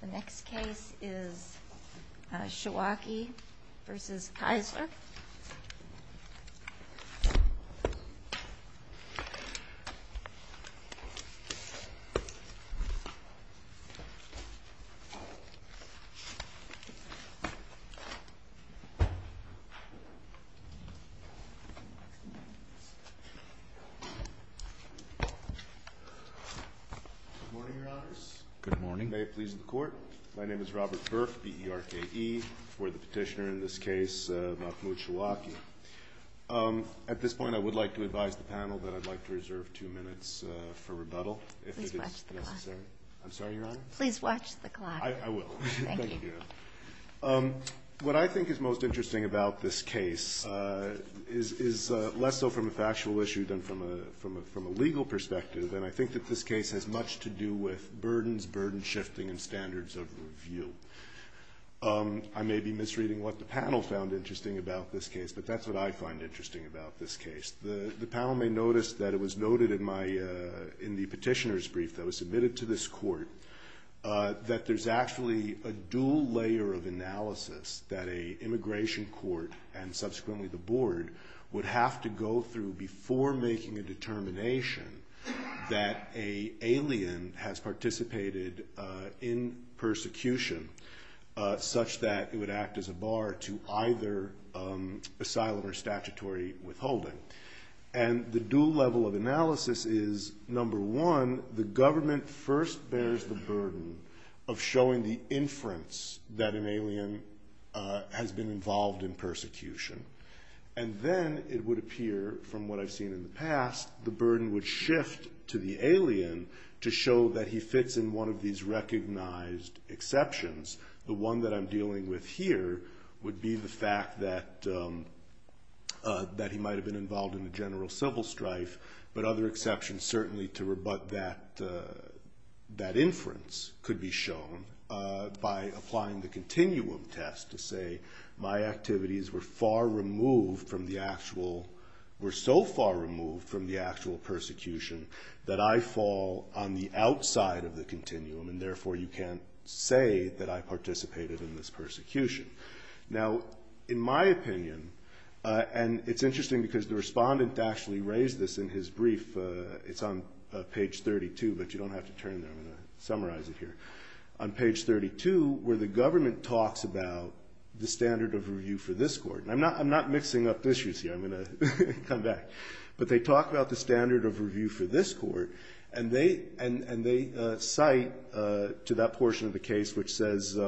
The next case is Shawakih v. Keisler Good morning, your honors. May it please the court. My name is Robert Burke, B-E-R-K-E. I would like to advise the panel that I would like to reserve two minutes for rebuttal. Please watch the clock. I'm sorry, your honor? Please watch the clock. I will. Thank you. What I think is most interesting about this case is less so from a factual issue than from a legal perspective, and I think that this case has much to do with burdens, burden shifting and standards of review. I may be misreading what the panel found interesting about this case, but that's what I find interesting about this case. The panel may notice that it was noted in the petitioner's brief that was submitted to this court that there's actually a dual layer of analysis that an immigration court and subsequently the board would have to go through before making a determination that an alien has participated in persecution such that it would act as a bar to either asylum or statutory withholding. And the dual level of analysis is, number one, the government first bears the burden of showing the inference that an alien has been involved in persecution. And then it would appear, from what I've seen in the past, the burden would shift to the alien to show that he fits in one of these recognized exceptions. The one that I'm dealing with here would be the fact that he might have been involved in a general civil strife, but other exceptions certainly to rebut that inference could be shown by applying the continuum test to say, my activities were far removed from the actual, were so far removed from the actual persecution that I fall on the outside of the continuum and therefore you can't say that I participated in this persecution. Now, in my opinion, and it's interesting because the respondent actually raised this in his brief, it's on page 32, but you don't have to turn there. I'm going to summarize it here. On page 32, where the government talks about the standard of review for this court, and I'm not mixing up issues here. I'm going to come back. But they talk about the standard of review for this court and they cite to that portion of the case which says,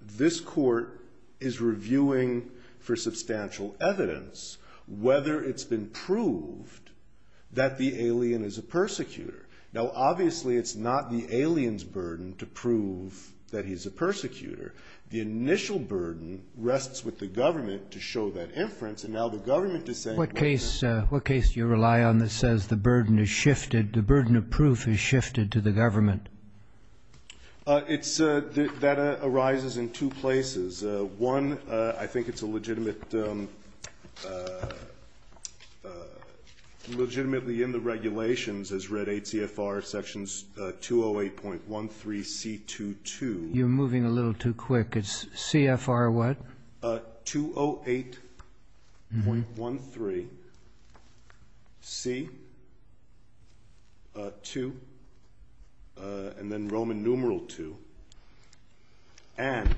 this court is reviewing for substantial evidence whether it's been proved that the alien is a persecutor. Now, obviously it's not the alien's burden to prove that he's a persecutor. The initial burden rests with the government to show that inference and now the government is saying- What case do you rely on that says the burden is shifted, the burden of proof is shifted to the government? It's, that arises in two places. One, I think it's a legitimate, legitimately in the regulations as read H.C.F.R. sections 208.13.C.2.2. You're moving a little too quick. It's C.F.R. what? 208.13.C.2. and then Roman numeral 2. And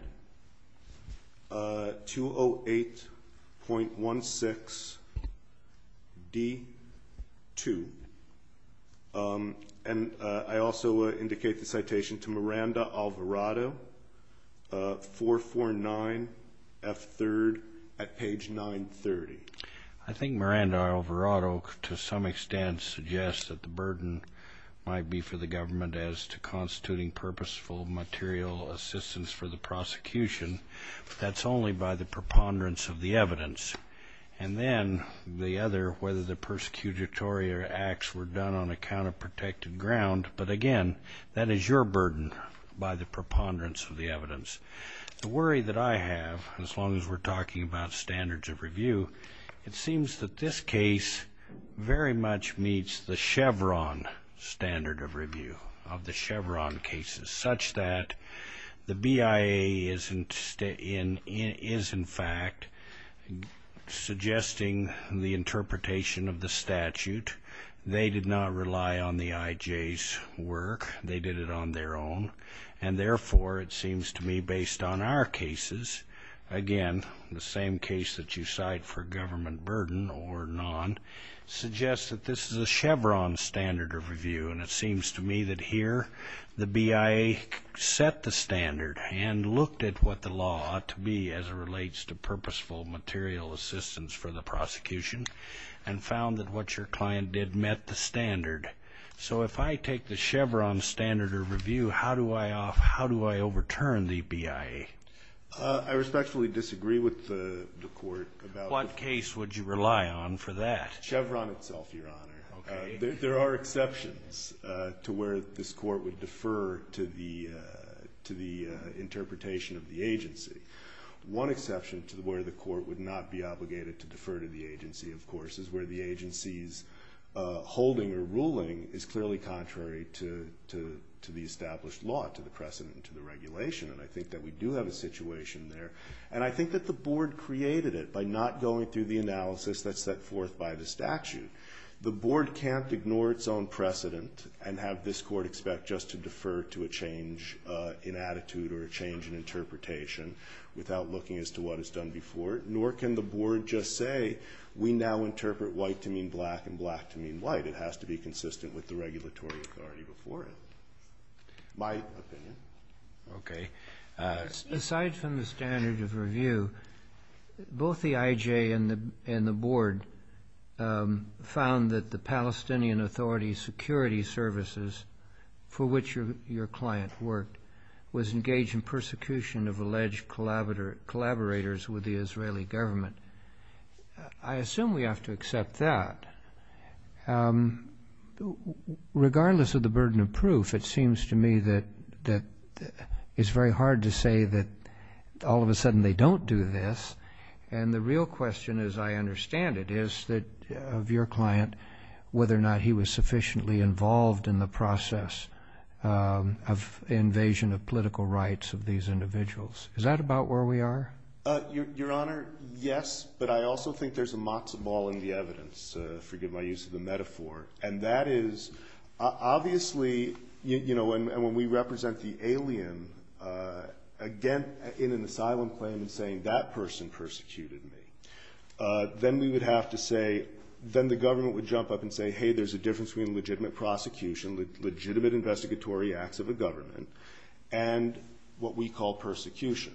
208.16.D.2. And I also indicate the citation to Miranda Alvarado, 449.F.3. at page 930. I think Miranda Alvarado to some extent suggests that the burden might be for the government as to constituting purposeful material assistance for the prosecution. That's only by the preponderance of the evidence. And then the other, whether the persecutory acts were done on a counter protected ground. But again, that is your burden by the preponderance of the evidence. The worry that I have, as long as we're talking about standards of review, it seems that this case very much meets the Chevron standard of review of the Chevron cases such that the IJs work. They did it on their own. And therefore, it seems to me based on our cases, again the same case that you cite for government burden or non, suggests that this is a Chevron standard of review. And it seems to me that here the BIA set the standard and looked at what the law ought to be as it relates to purposeful material assistance for the prosecution and found that what your client did met the standard. So if I take the Chevron standard of review, how do I overturn the BIA? I respectfully disagree with the court. What case would you rely on for that? Chevron itself, Your Honor. There are exceptions to where this court would defer to the interpretation of the agency. One exception to where the court would not be obligated to defer to the agency, of course, is where the agency's holding or ruling is clearly contrary to the established law, to the precedent, and to the regulation. And I think that we do have a situation there. And I think that the board created it by not going through the analysis that's set forth by the statute. The board can't ignore its own precedent and have this court expect just to defer to a change in attitude or a change in interpretation without looking as to what is done before it. Nor can the board just say we now interpret white to mean black and black to mean white. It has to be consistent with the regulatory authority before it. My opinion. Okay. Aside from the standard of review, both the IJ and the board found that the Palestinian Authority security services for which your client worked was engaged in persecution of alleged collaborators with the Israeli government. I assume we have to accept that. Regardless of the burden of proof, it seems to me that it's very hard to say that all of a sudden they don't do this. And the real question, as I understand it, is that of your client, whether or not he was involved in the process of invasion of political rights of these individuals. Is that about where we are? Your Honor, yes. But I also think there's a matzah ball in the evidence. Forgive my use of the metaphor. And that is obviously, you know, when we represent the alien again in an asylum claim and saying that person persecuted me, then we would have to say, then the government would jump up and say, hey, there's a difference between legitimate prosecution, legitimate investigatory acts of a government, and what we call persecution.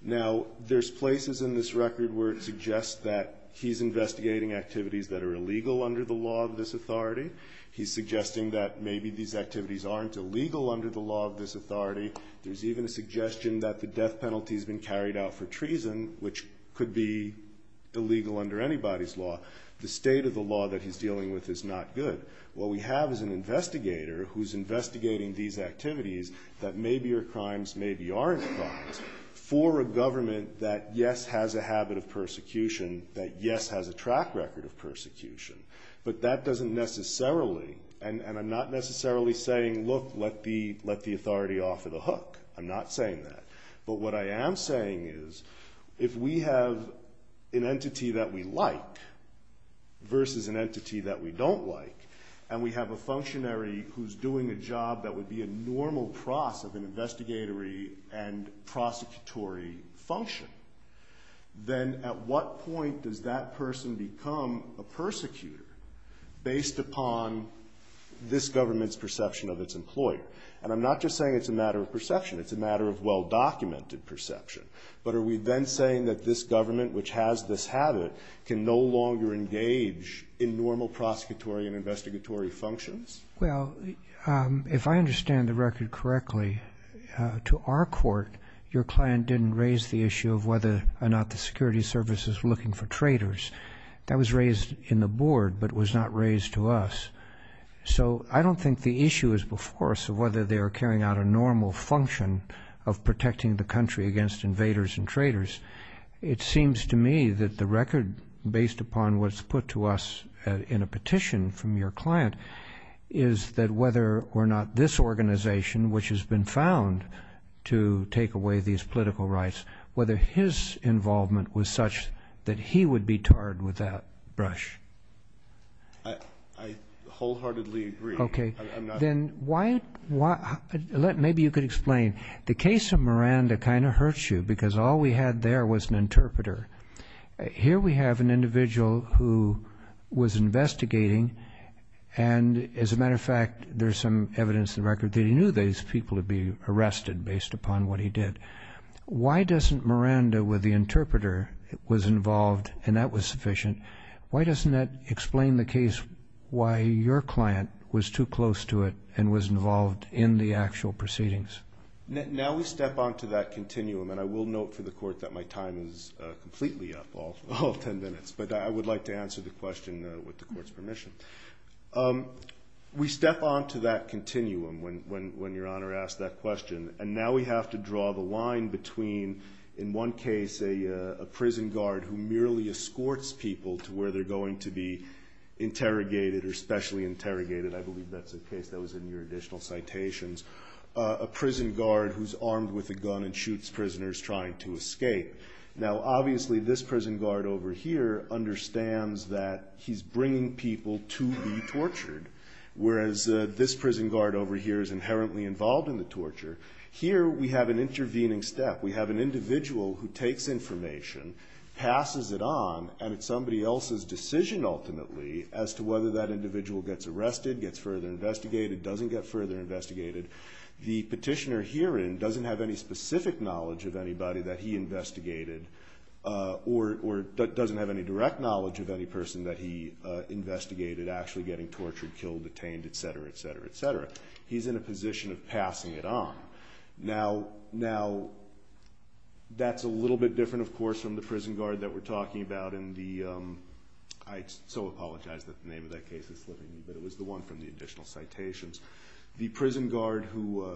Now, there's places in this record where it suggests that he's investigating activities that are illegal under the law of this authority. He's suggesting that maybe these activities aren't illegal under the law of this authority. There's even a suggestion that the death penalty has been carried out for treason, which could be illegal under anybody's law. The state of the law that he's dealing with is not good. What we have is an investigator who's investigating these activities that maybe are crimes, maybe aren't crimes, for a government that, yes, has a habit of persecution, that, yes, has a track record of persecution. But that doesn't necessarily, and I'm not necessarily saying, look, let the authority offer the hook. I'm not saying that. But what I am saying is, if we have an entity that we like versus an entity that we don't like, and we have a functionary who's doing a job that would be a normal process of an investigatory and prosecutory function, then at what point does that person become a persecutor based upon this government's perception of its employer? And I'm not just saying it's a matter of perception. It's a matter of well-documented perception. But are we then saying that this government, which has this habit, can no longer engage in normal prosecutory and investigatory functions? Well, if I understand the record correctly, to our court, your client didn't raise the issue of whether or not the security services were looking for traitors. That was raised in the board, but was not raised to us. So I don't think the issue is before us of whether they were carrying out a normal function of protecting the country against invaders and traitors. It seems to me that the record, based upon what's put to us in a petition from your client, is that whether or not this organization, which has been found to take away these political rights, whether his involvement was such that he would be tarred with that brush. I wholeheartedly agree. Okay. Then maybe you could explain. The case of Miranda kind of hurts you because all we had there was an interpreter. Here we have an individual who was investigating, and as a matter of fact, there's some evidence in the record that he knew these people would be arrested based upon what he did. Why doesn't Miranda, with the interpreter, was involved and that was sufficient? Why doesn't that explain the case why your client was too close to it and was involved in the actual proceedings? Now we step onto that continuum, and I will note for the Court that my time is completely up, all 10 minutes, but I would like to answer the question with the Court's permission. We step onto that continuum when Your Honor asked that question, and now we have to draw the line between, in one case, a prison guard who merely escorts people to where they're going to be interrogated or specially interrogated. I believe that's the case. That was in your additional citations. A prison guard who's armed with a gun and shoots prisoners trying to escape. Now obviously this prison guard over here understands that he's bringing people to be tortured, whereas this prison guard over here is inherently involved in the torture. Here we have an intervening step. We have an individual who takes information, passes it on, and it's somebody else's decision ultimately as to whether that individual gets arrested, gets further investigated, doesn't get further investigated. The petitioner herein doesn't have any specific knowledge of anybody that he investigated or doesn't have any direct knowledge of any person that he investigated actually getting tortured, killed, detained, etc., etc., etc. He's in a position of passing it on. Now that's a little bit different, of course, from the prison guard that we're talking about in the... I so apologize that the name of that case is slipping me, but it was the one from the additional citations. The prison guard who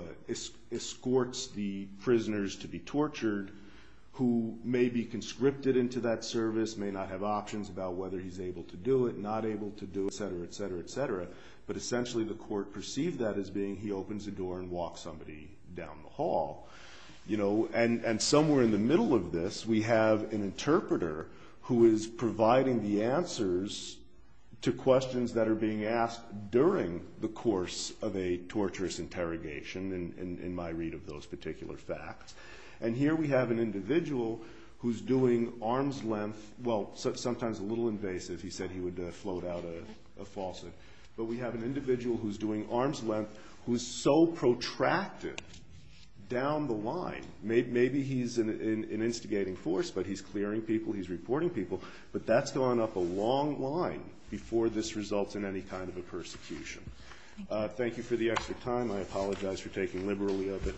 escorts the prisoners to be tortured, who may be conscripted into that service, may not have options about whether he's able to do it, not able to do it, etc., etc., etc., but essentially the court perceived that as being he opens the door and walks somebody down the hall. And somewhere in the middle of this we have an interpreter who is providing the answers to questions that are being asked during the course of a torturous interrogation in my read of those particular facts. And here we have an individual who's doing arm's length, well, sometimes a little invasive, he said he would float out a faucet, but we have an individual who's doing arm's length who's so protracted down the line, maybe he's an instigating force, but he's clearing people, he's reporting people, but that's gone up a long line before this results in any kind of a persecution. Thank you for the extra time. I apologize for taking liberally of it.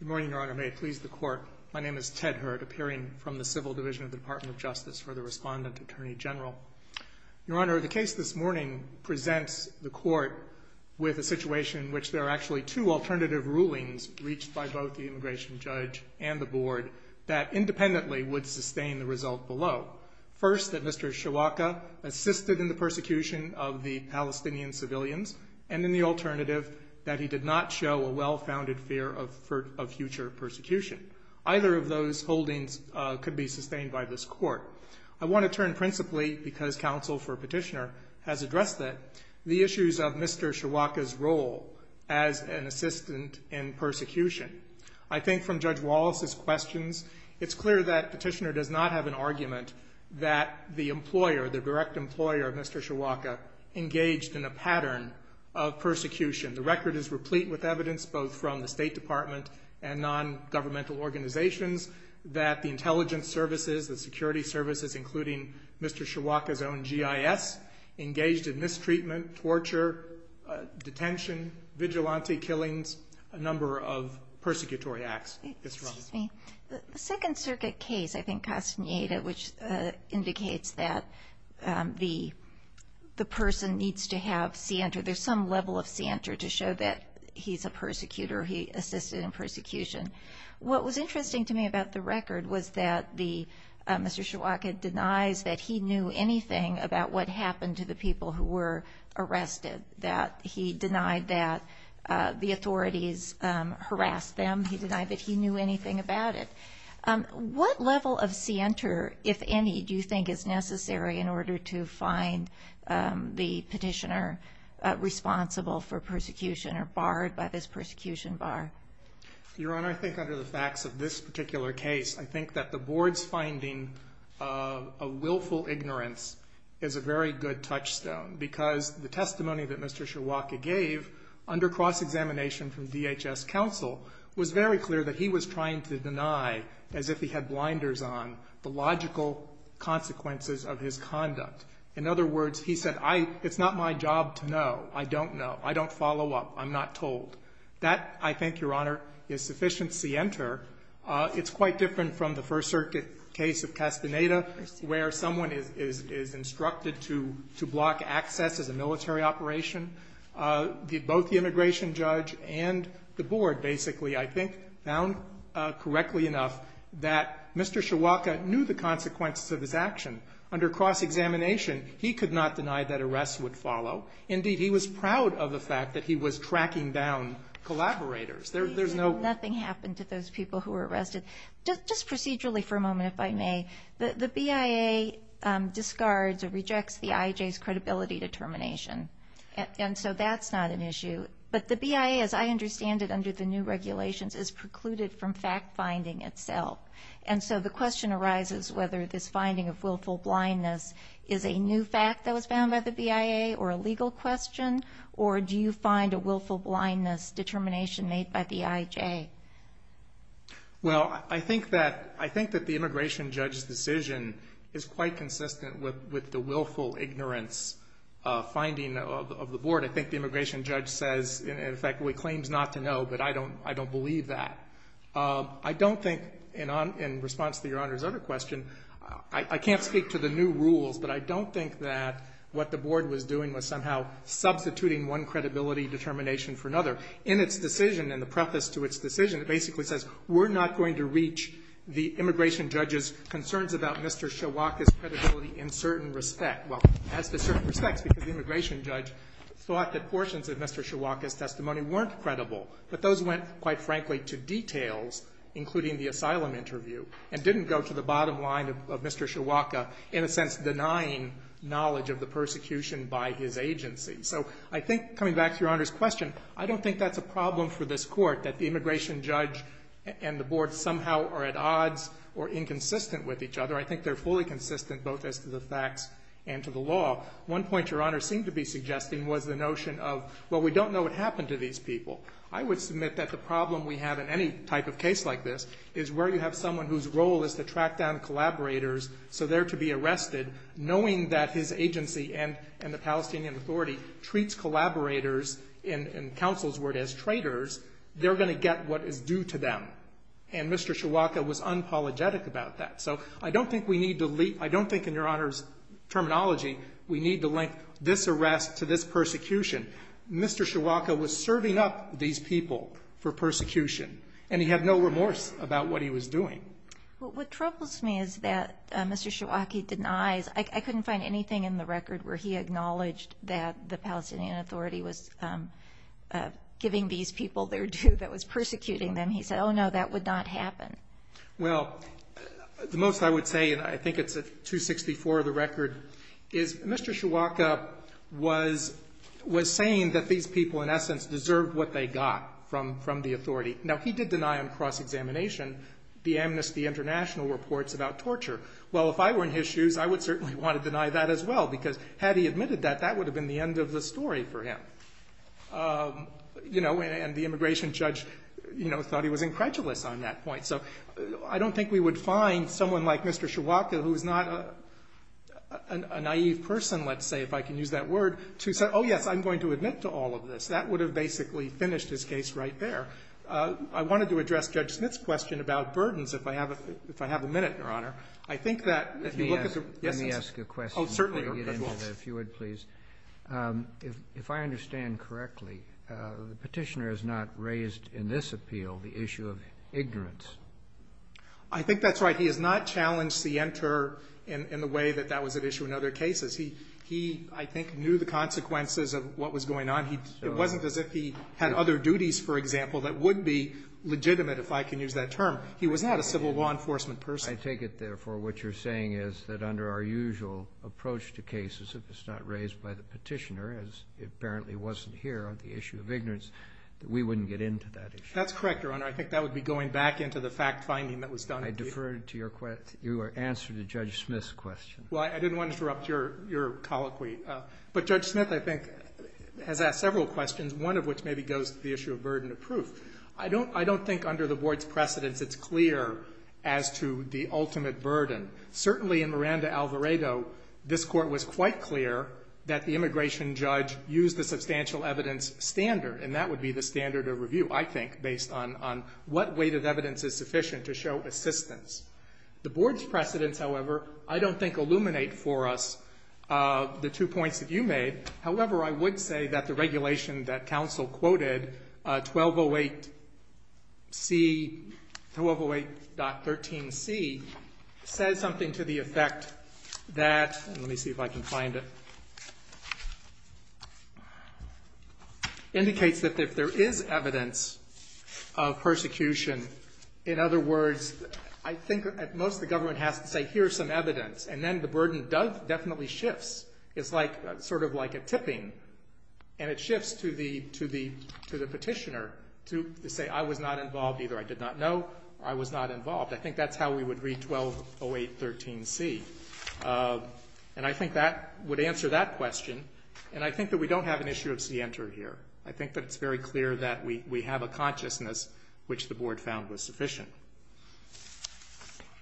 Good morning, Your Honor. May it please the Court. My name is Ted Hurd, appearing from the Civil Division of the Department of Justice for the Respondent Attorney General. Your Honor, the case this morning presents the Court with a situation in which there are actually two alternative rulings reached by both the immigration judge and the Board that independently would sustain the result below. First, that Mr. Shawaka assisted in the persecution of the Palestinian civilians, and then the alternative that he did not show a well-founded fear of future persecution. Either of those holdings could be sustained by this Court. I want to turn principally, because counsel for petitioner has addressed that, the issues of Mr. Shawaka's role as an assistant in persecution. I think from Judge Wallace's questions, it's clear that petitioner does not have an argument that the employer, the direct employer of Mr. Shawaka, engaged in a pattern of persecution. The record is replete with evidence, both from the State Department and non-governmental organizations, that the intelligence services, the security services, including Mr. Shawaka's own GIS, engaged in mistreatment, torture, detention, vigilante killings, a number of persecutory acts. Excuse me. The Second Circuit case, I think, Castaneda, which indicates that the person needs to have cianter, there's some level of cianter to show that he's a persecutor, he assisted in persecution. What was interesting to me about the record was that Mr. Shawaka denies that he knew anything about what happened to the people who were arrested, that he denied that the authorities harassed them, he denied that he knew anything about it. What level of cianter, if any, do you think is necessary in order to find the petitioner responsible for persecution or barred by this persecution bar? Your Honor, I think under the facts of this particular case, I think that the Board's finding of willful ignorance is a very good touchstone, because the testimony that Mr. Shawaka gave under cross-examination from DHS counsel was very clear that he was trying to deny, as if he had blinders on, the logical consequences of his conduct. In other words, he said, it's not my job to know, I don't know, I don't follow up, I'm not told. That, I think, Your Honor, is sufficient cianter. It's quite different from the First Circuit case of Caspineta, where someone is instructed to block access as a military operation. Both the immigration judge and the Board, basically, I think, found correctly enough that Mr. Shawaka knew the consequences of his action. Under cross-examination, he could not deny that arrests would follow. Indeed, he was proud of the fact that he was cracking down collaborators. There's no... Nothing happened to those people who were arrested. Just procedurally, for a moment, if I may, the BIA discards or rejects the IJ's credibility determination. And so that's not an issue. But the BIA, as I understand it under the new regulations, is precluded from fact-finding itself. And so the question arises whether this finding of willful blindness is a new fact that was found by the BIA or a legal question, or do you find a willful blindness determination made by the IJ? Well, I think that the immigration judge's decision is quite consistent with the willful ignorance finding of the Board. I think the immigration judge says, in effect, he claims not to know, but I don't believe that. I don't think, in response to Your Honor's other question, I can't speak to the new rules, but I don't think that what the Board was doing was somehow substituting one credibility determination for another. In its decision, in the preface to its decision, it basically says, we're not going to reach the immigration judge's concerns about Mr. Siowak's credibility in certain respect. Well, as to certain respects, because the immigration judge thought that portions of Mr. Siowak's testimony weren't credible, but those went, quite frankly, to details, including the asylum interview, and didn't go to the bottom line of Mr. Siowak, in a sense, denying knowledge of the persecution by his agency. So I think, coming back to Your Honor's question, I don't think that's a problem for this Court, that the immigration judge and the Board somehow are at odds or inconsistent with each other. I think they're fully consistent, both as to the facts and to the law. One point Your Honor seemed to be suggesting was the notion of, well, we don't know what happened to these people. I would submit that the problem we have in any type of case like this is where you have someone whose role is to track down collaborators, so they're to be arrested, knowing that his agency and the Palestinian Authority treats collaborators, in counsel's word, as traitors, they're going to get what is due to them. And Mr. Siowak was unapologetic about that. So I don't think we need to leave, I don't think, in Your Honor's terminology, we need to link this arrest to this persecution. Mr. Siowak was serving up these people for what they were doing. Well, what troubles me is that Mr. Siowak denies, I couldn't find anything in the record where he acknowledged that the Palestinian Authority was giving these people their due that was persecuting them. He said, oh, no, that would not happen. Well, the most I would say, and I think it's at 264 of the record, is Mr. Siowak was saying that these people, in essence, deserved what they got from the Authority. Now, he did deny in cross-examination the Amnesty International reports about torture. Well, if I were in his shoes, I would certainly want to deny that as well, because had he admitted that, that would have been the end of the story for him. And the immigration judge thought he was incredulous on that point. So I don't think we would find someone like Mr. Siowak who is not a naive person, let's say, if I can use that word, to say, oh, yes, I'm going to admit to all of this. That would have basically finished his case right there. I wanted to address Judge Smith's question about burdens, if I have a minute, Your Honor. I think that, if you look at the essence of it. Let me ask a question before we get into that, if you would, please. If I understand correctly, the Petitioner has not raised in this appeal the issue of ignorance. I think that's right. He has not challenged the enter in the way that that was at issue in other cases. He, I think, knew the consequences of what was going on. It wasn't as if he had other duties, for example, that would be legitimate, if I can use that term. He was not a civil law enforcement person. I take it, therefore, what you're saying is that under our usual approach to cases, if it's not raised by the Petitioner, as it apparently wasn't here on the issue of ignorance, that we wouldn't get into that issue. That's correct, Your Honor. I think that would be going back into the fact finding that was done. I defer to your answer to Judge Smith's question. Well, I didn't want to interrupt your colloquy. But Judge Smith, I think, has asked several questions, one of which maybe goes to the issue of burden of proof. I don't think under the Board's precedence it's clear as to the ultimate burden. Certainly in Miranda-Alvarado, this Court was quite clear that the immigration judge used the substantial evidence standard, and that would be the standard of review, I think, based on what weighted evidence is sufficient to show assistance. The Board's precedence, however, I don't think illuminate for us the two points that you made. However, I would say that the regulation that counsel quoted, 1208C, 1208.13C, says something to the effect that, let me see if I can find it, indicates that if there is evidence of persecution, in other words, I think at most the government has to say, here's some evidence, and then the burden definitely shifts. It's sort of like a tipping, and it shifts to the petitioner to say, I was not involved either. I did not know, or I was not involved. I think that's how we would read 1208.13C. And I think that would answer that question. And I think that we don't have an issue of scienter here. I think that it's very clear that we have a consciousness which the Board found was sufficient.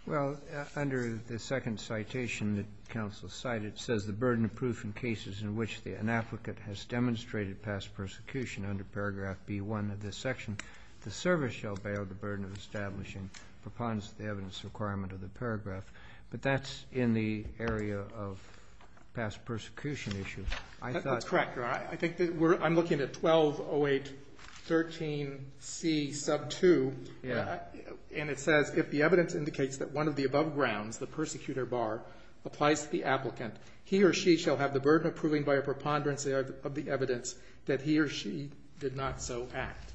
Well, under the second citation that counsel cited, it says, the burden of proof in cases in which an advocate has demonstrated past persecution, under paragraph B1 of this section, the service shall bear the burden of establishing preponderance of the evidence requirement of the paragraph. But that's in the area of past persecution issues. That's correct, Your Honor. I think that we're, I'm looking at 1208.13C, sub 2. And it says, if the evidence indicates that one of the above grounds, the persecutor bar, applies to the applicant, he or she shall have the burden of proving by a preponderance of the evidence that he or she did not so act.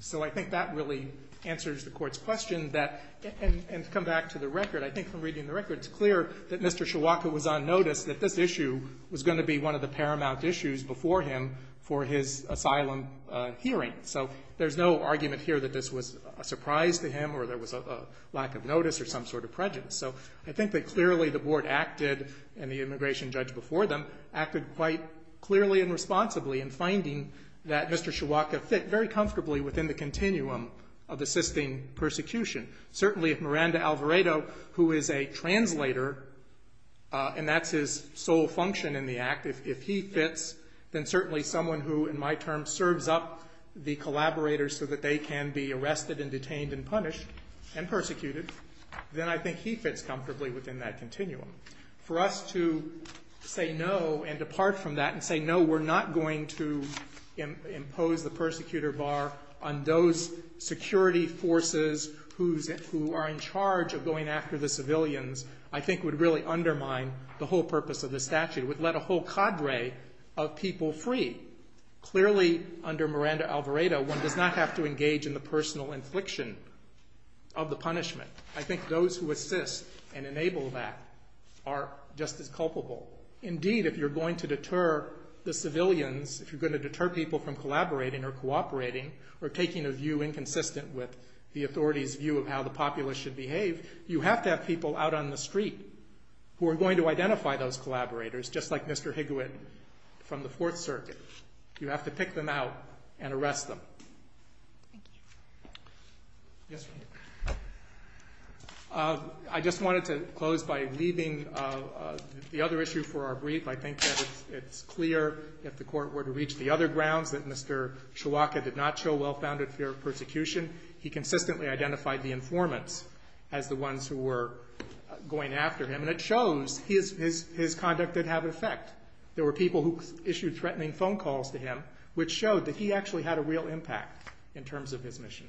So I think that really answers the Court's question that, and to come back to the record, I think from reading the record, it's clear that Mr. Chiwaka was on notice that this issue was going to be one of the paramount issues before him for his asylum hearing. So there's no argument here that this was a surprise to him or there was a lack of notice or some sort of prejudice. So I think that clearly the Board acted, and the immigration judge before them, acted quite clearly and responsibly in finding that Mr. Chiwaka fit very comfortably within the continuum of assisting persecution. Certainly if Miranda Alvaredo, who is a translator, and that's his sole function in the Act, if he fits, then certainly someone who, in my terms, serves up the collaborators so that they can be arrested and detained and punished and persecuted, then I think he fits comfortably within that continuum. For us to say no and depart from that and say no, we're not going to impose the persecutor bar on those security forces who are in charge of going after the civilians, I think would really undermine the whole purpose of the statute. It would let a whole cadre of people free. Clearly under Miranda Alvaredo, one does not have to engage in the personal infliction of the punishment. I think those who assist and enable that are just as culpable. Indeed, if you're going to deter the civilians, if you're going to deter people from collaborating or cooperating or taking a view inconsistent with the authority's view of how the populace should behave, you have to have people out on the street who are going to identify those collaborators, just like Mr. Higginwit from the Fourth Circuit. You have to pick them out and arrest them. I just wanted to close by leaving the other issue for our brief. I think that it's clear if the Court were to reach the other grounds, that Mr. Chiwaka did not show well-founded fear of persecution. He consistently identified the informants as the ones who were going after him, and it shows his conduct did have an effect. There were people who issued threatening phone calls to him, which showed that he actually had a real impact in terms of his mission.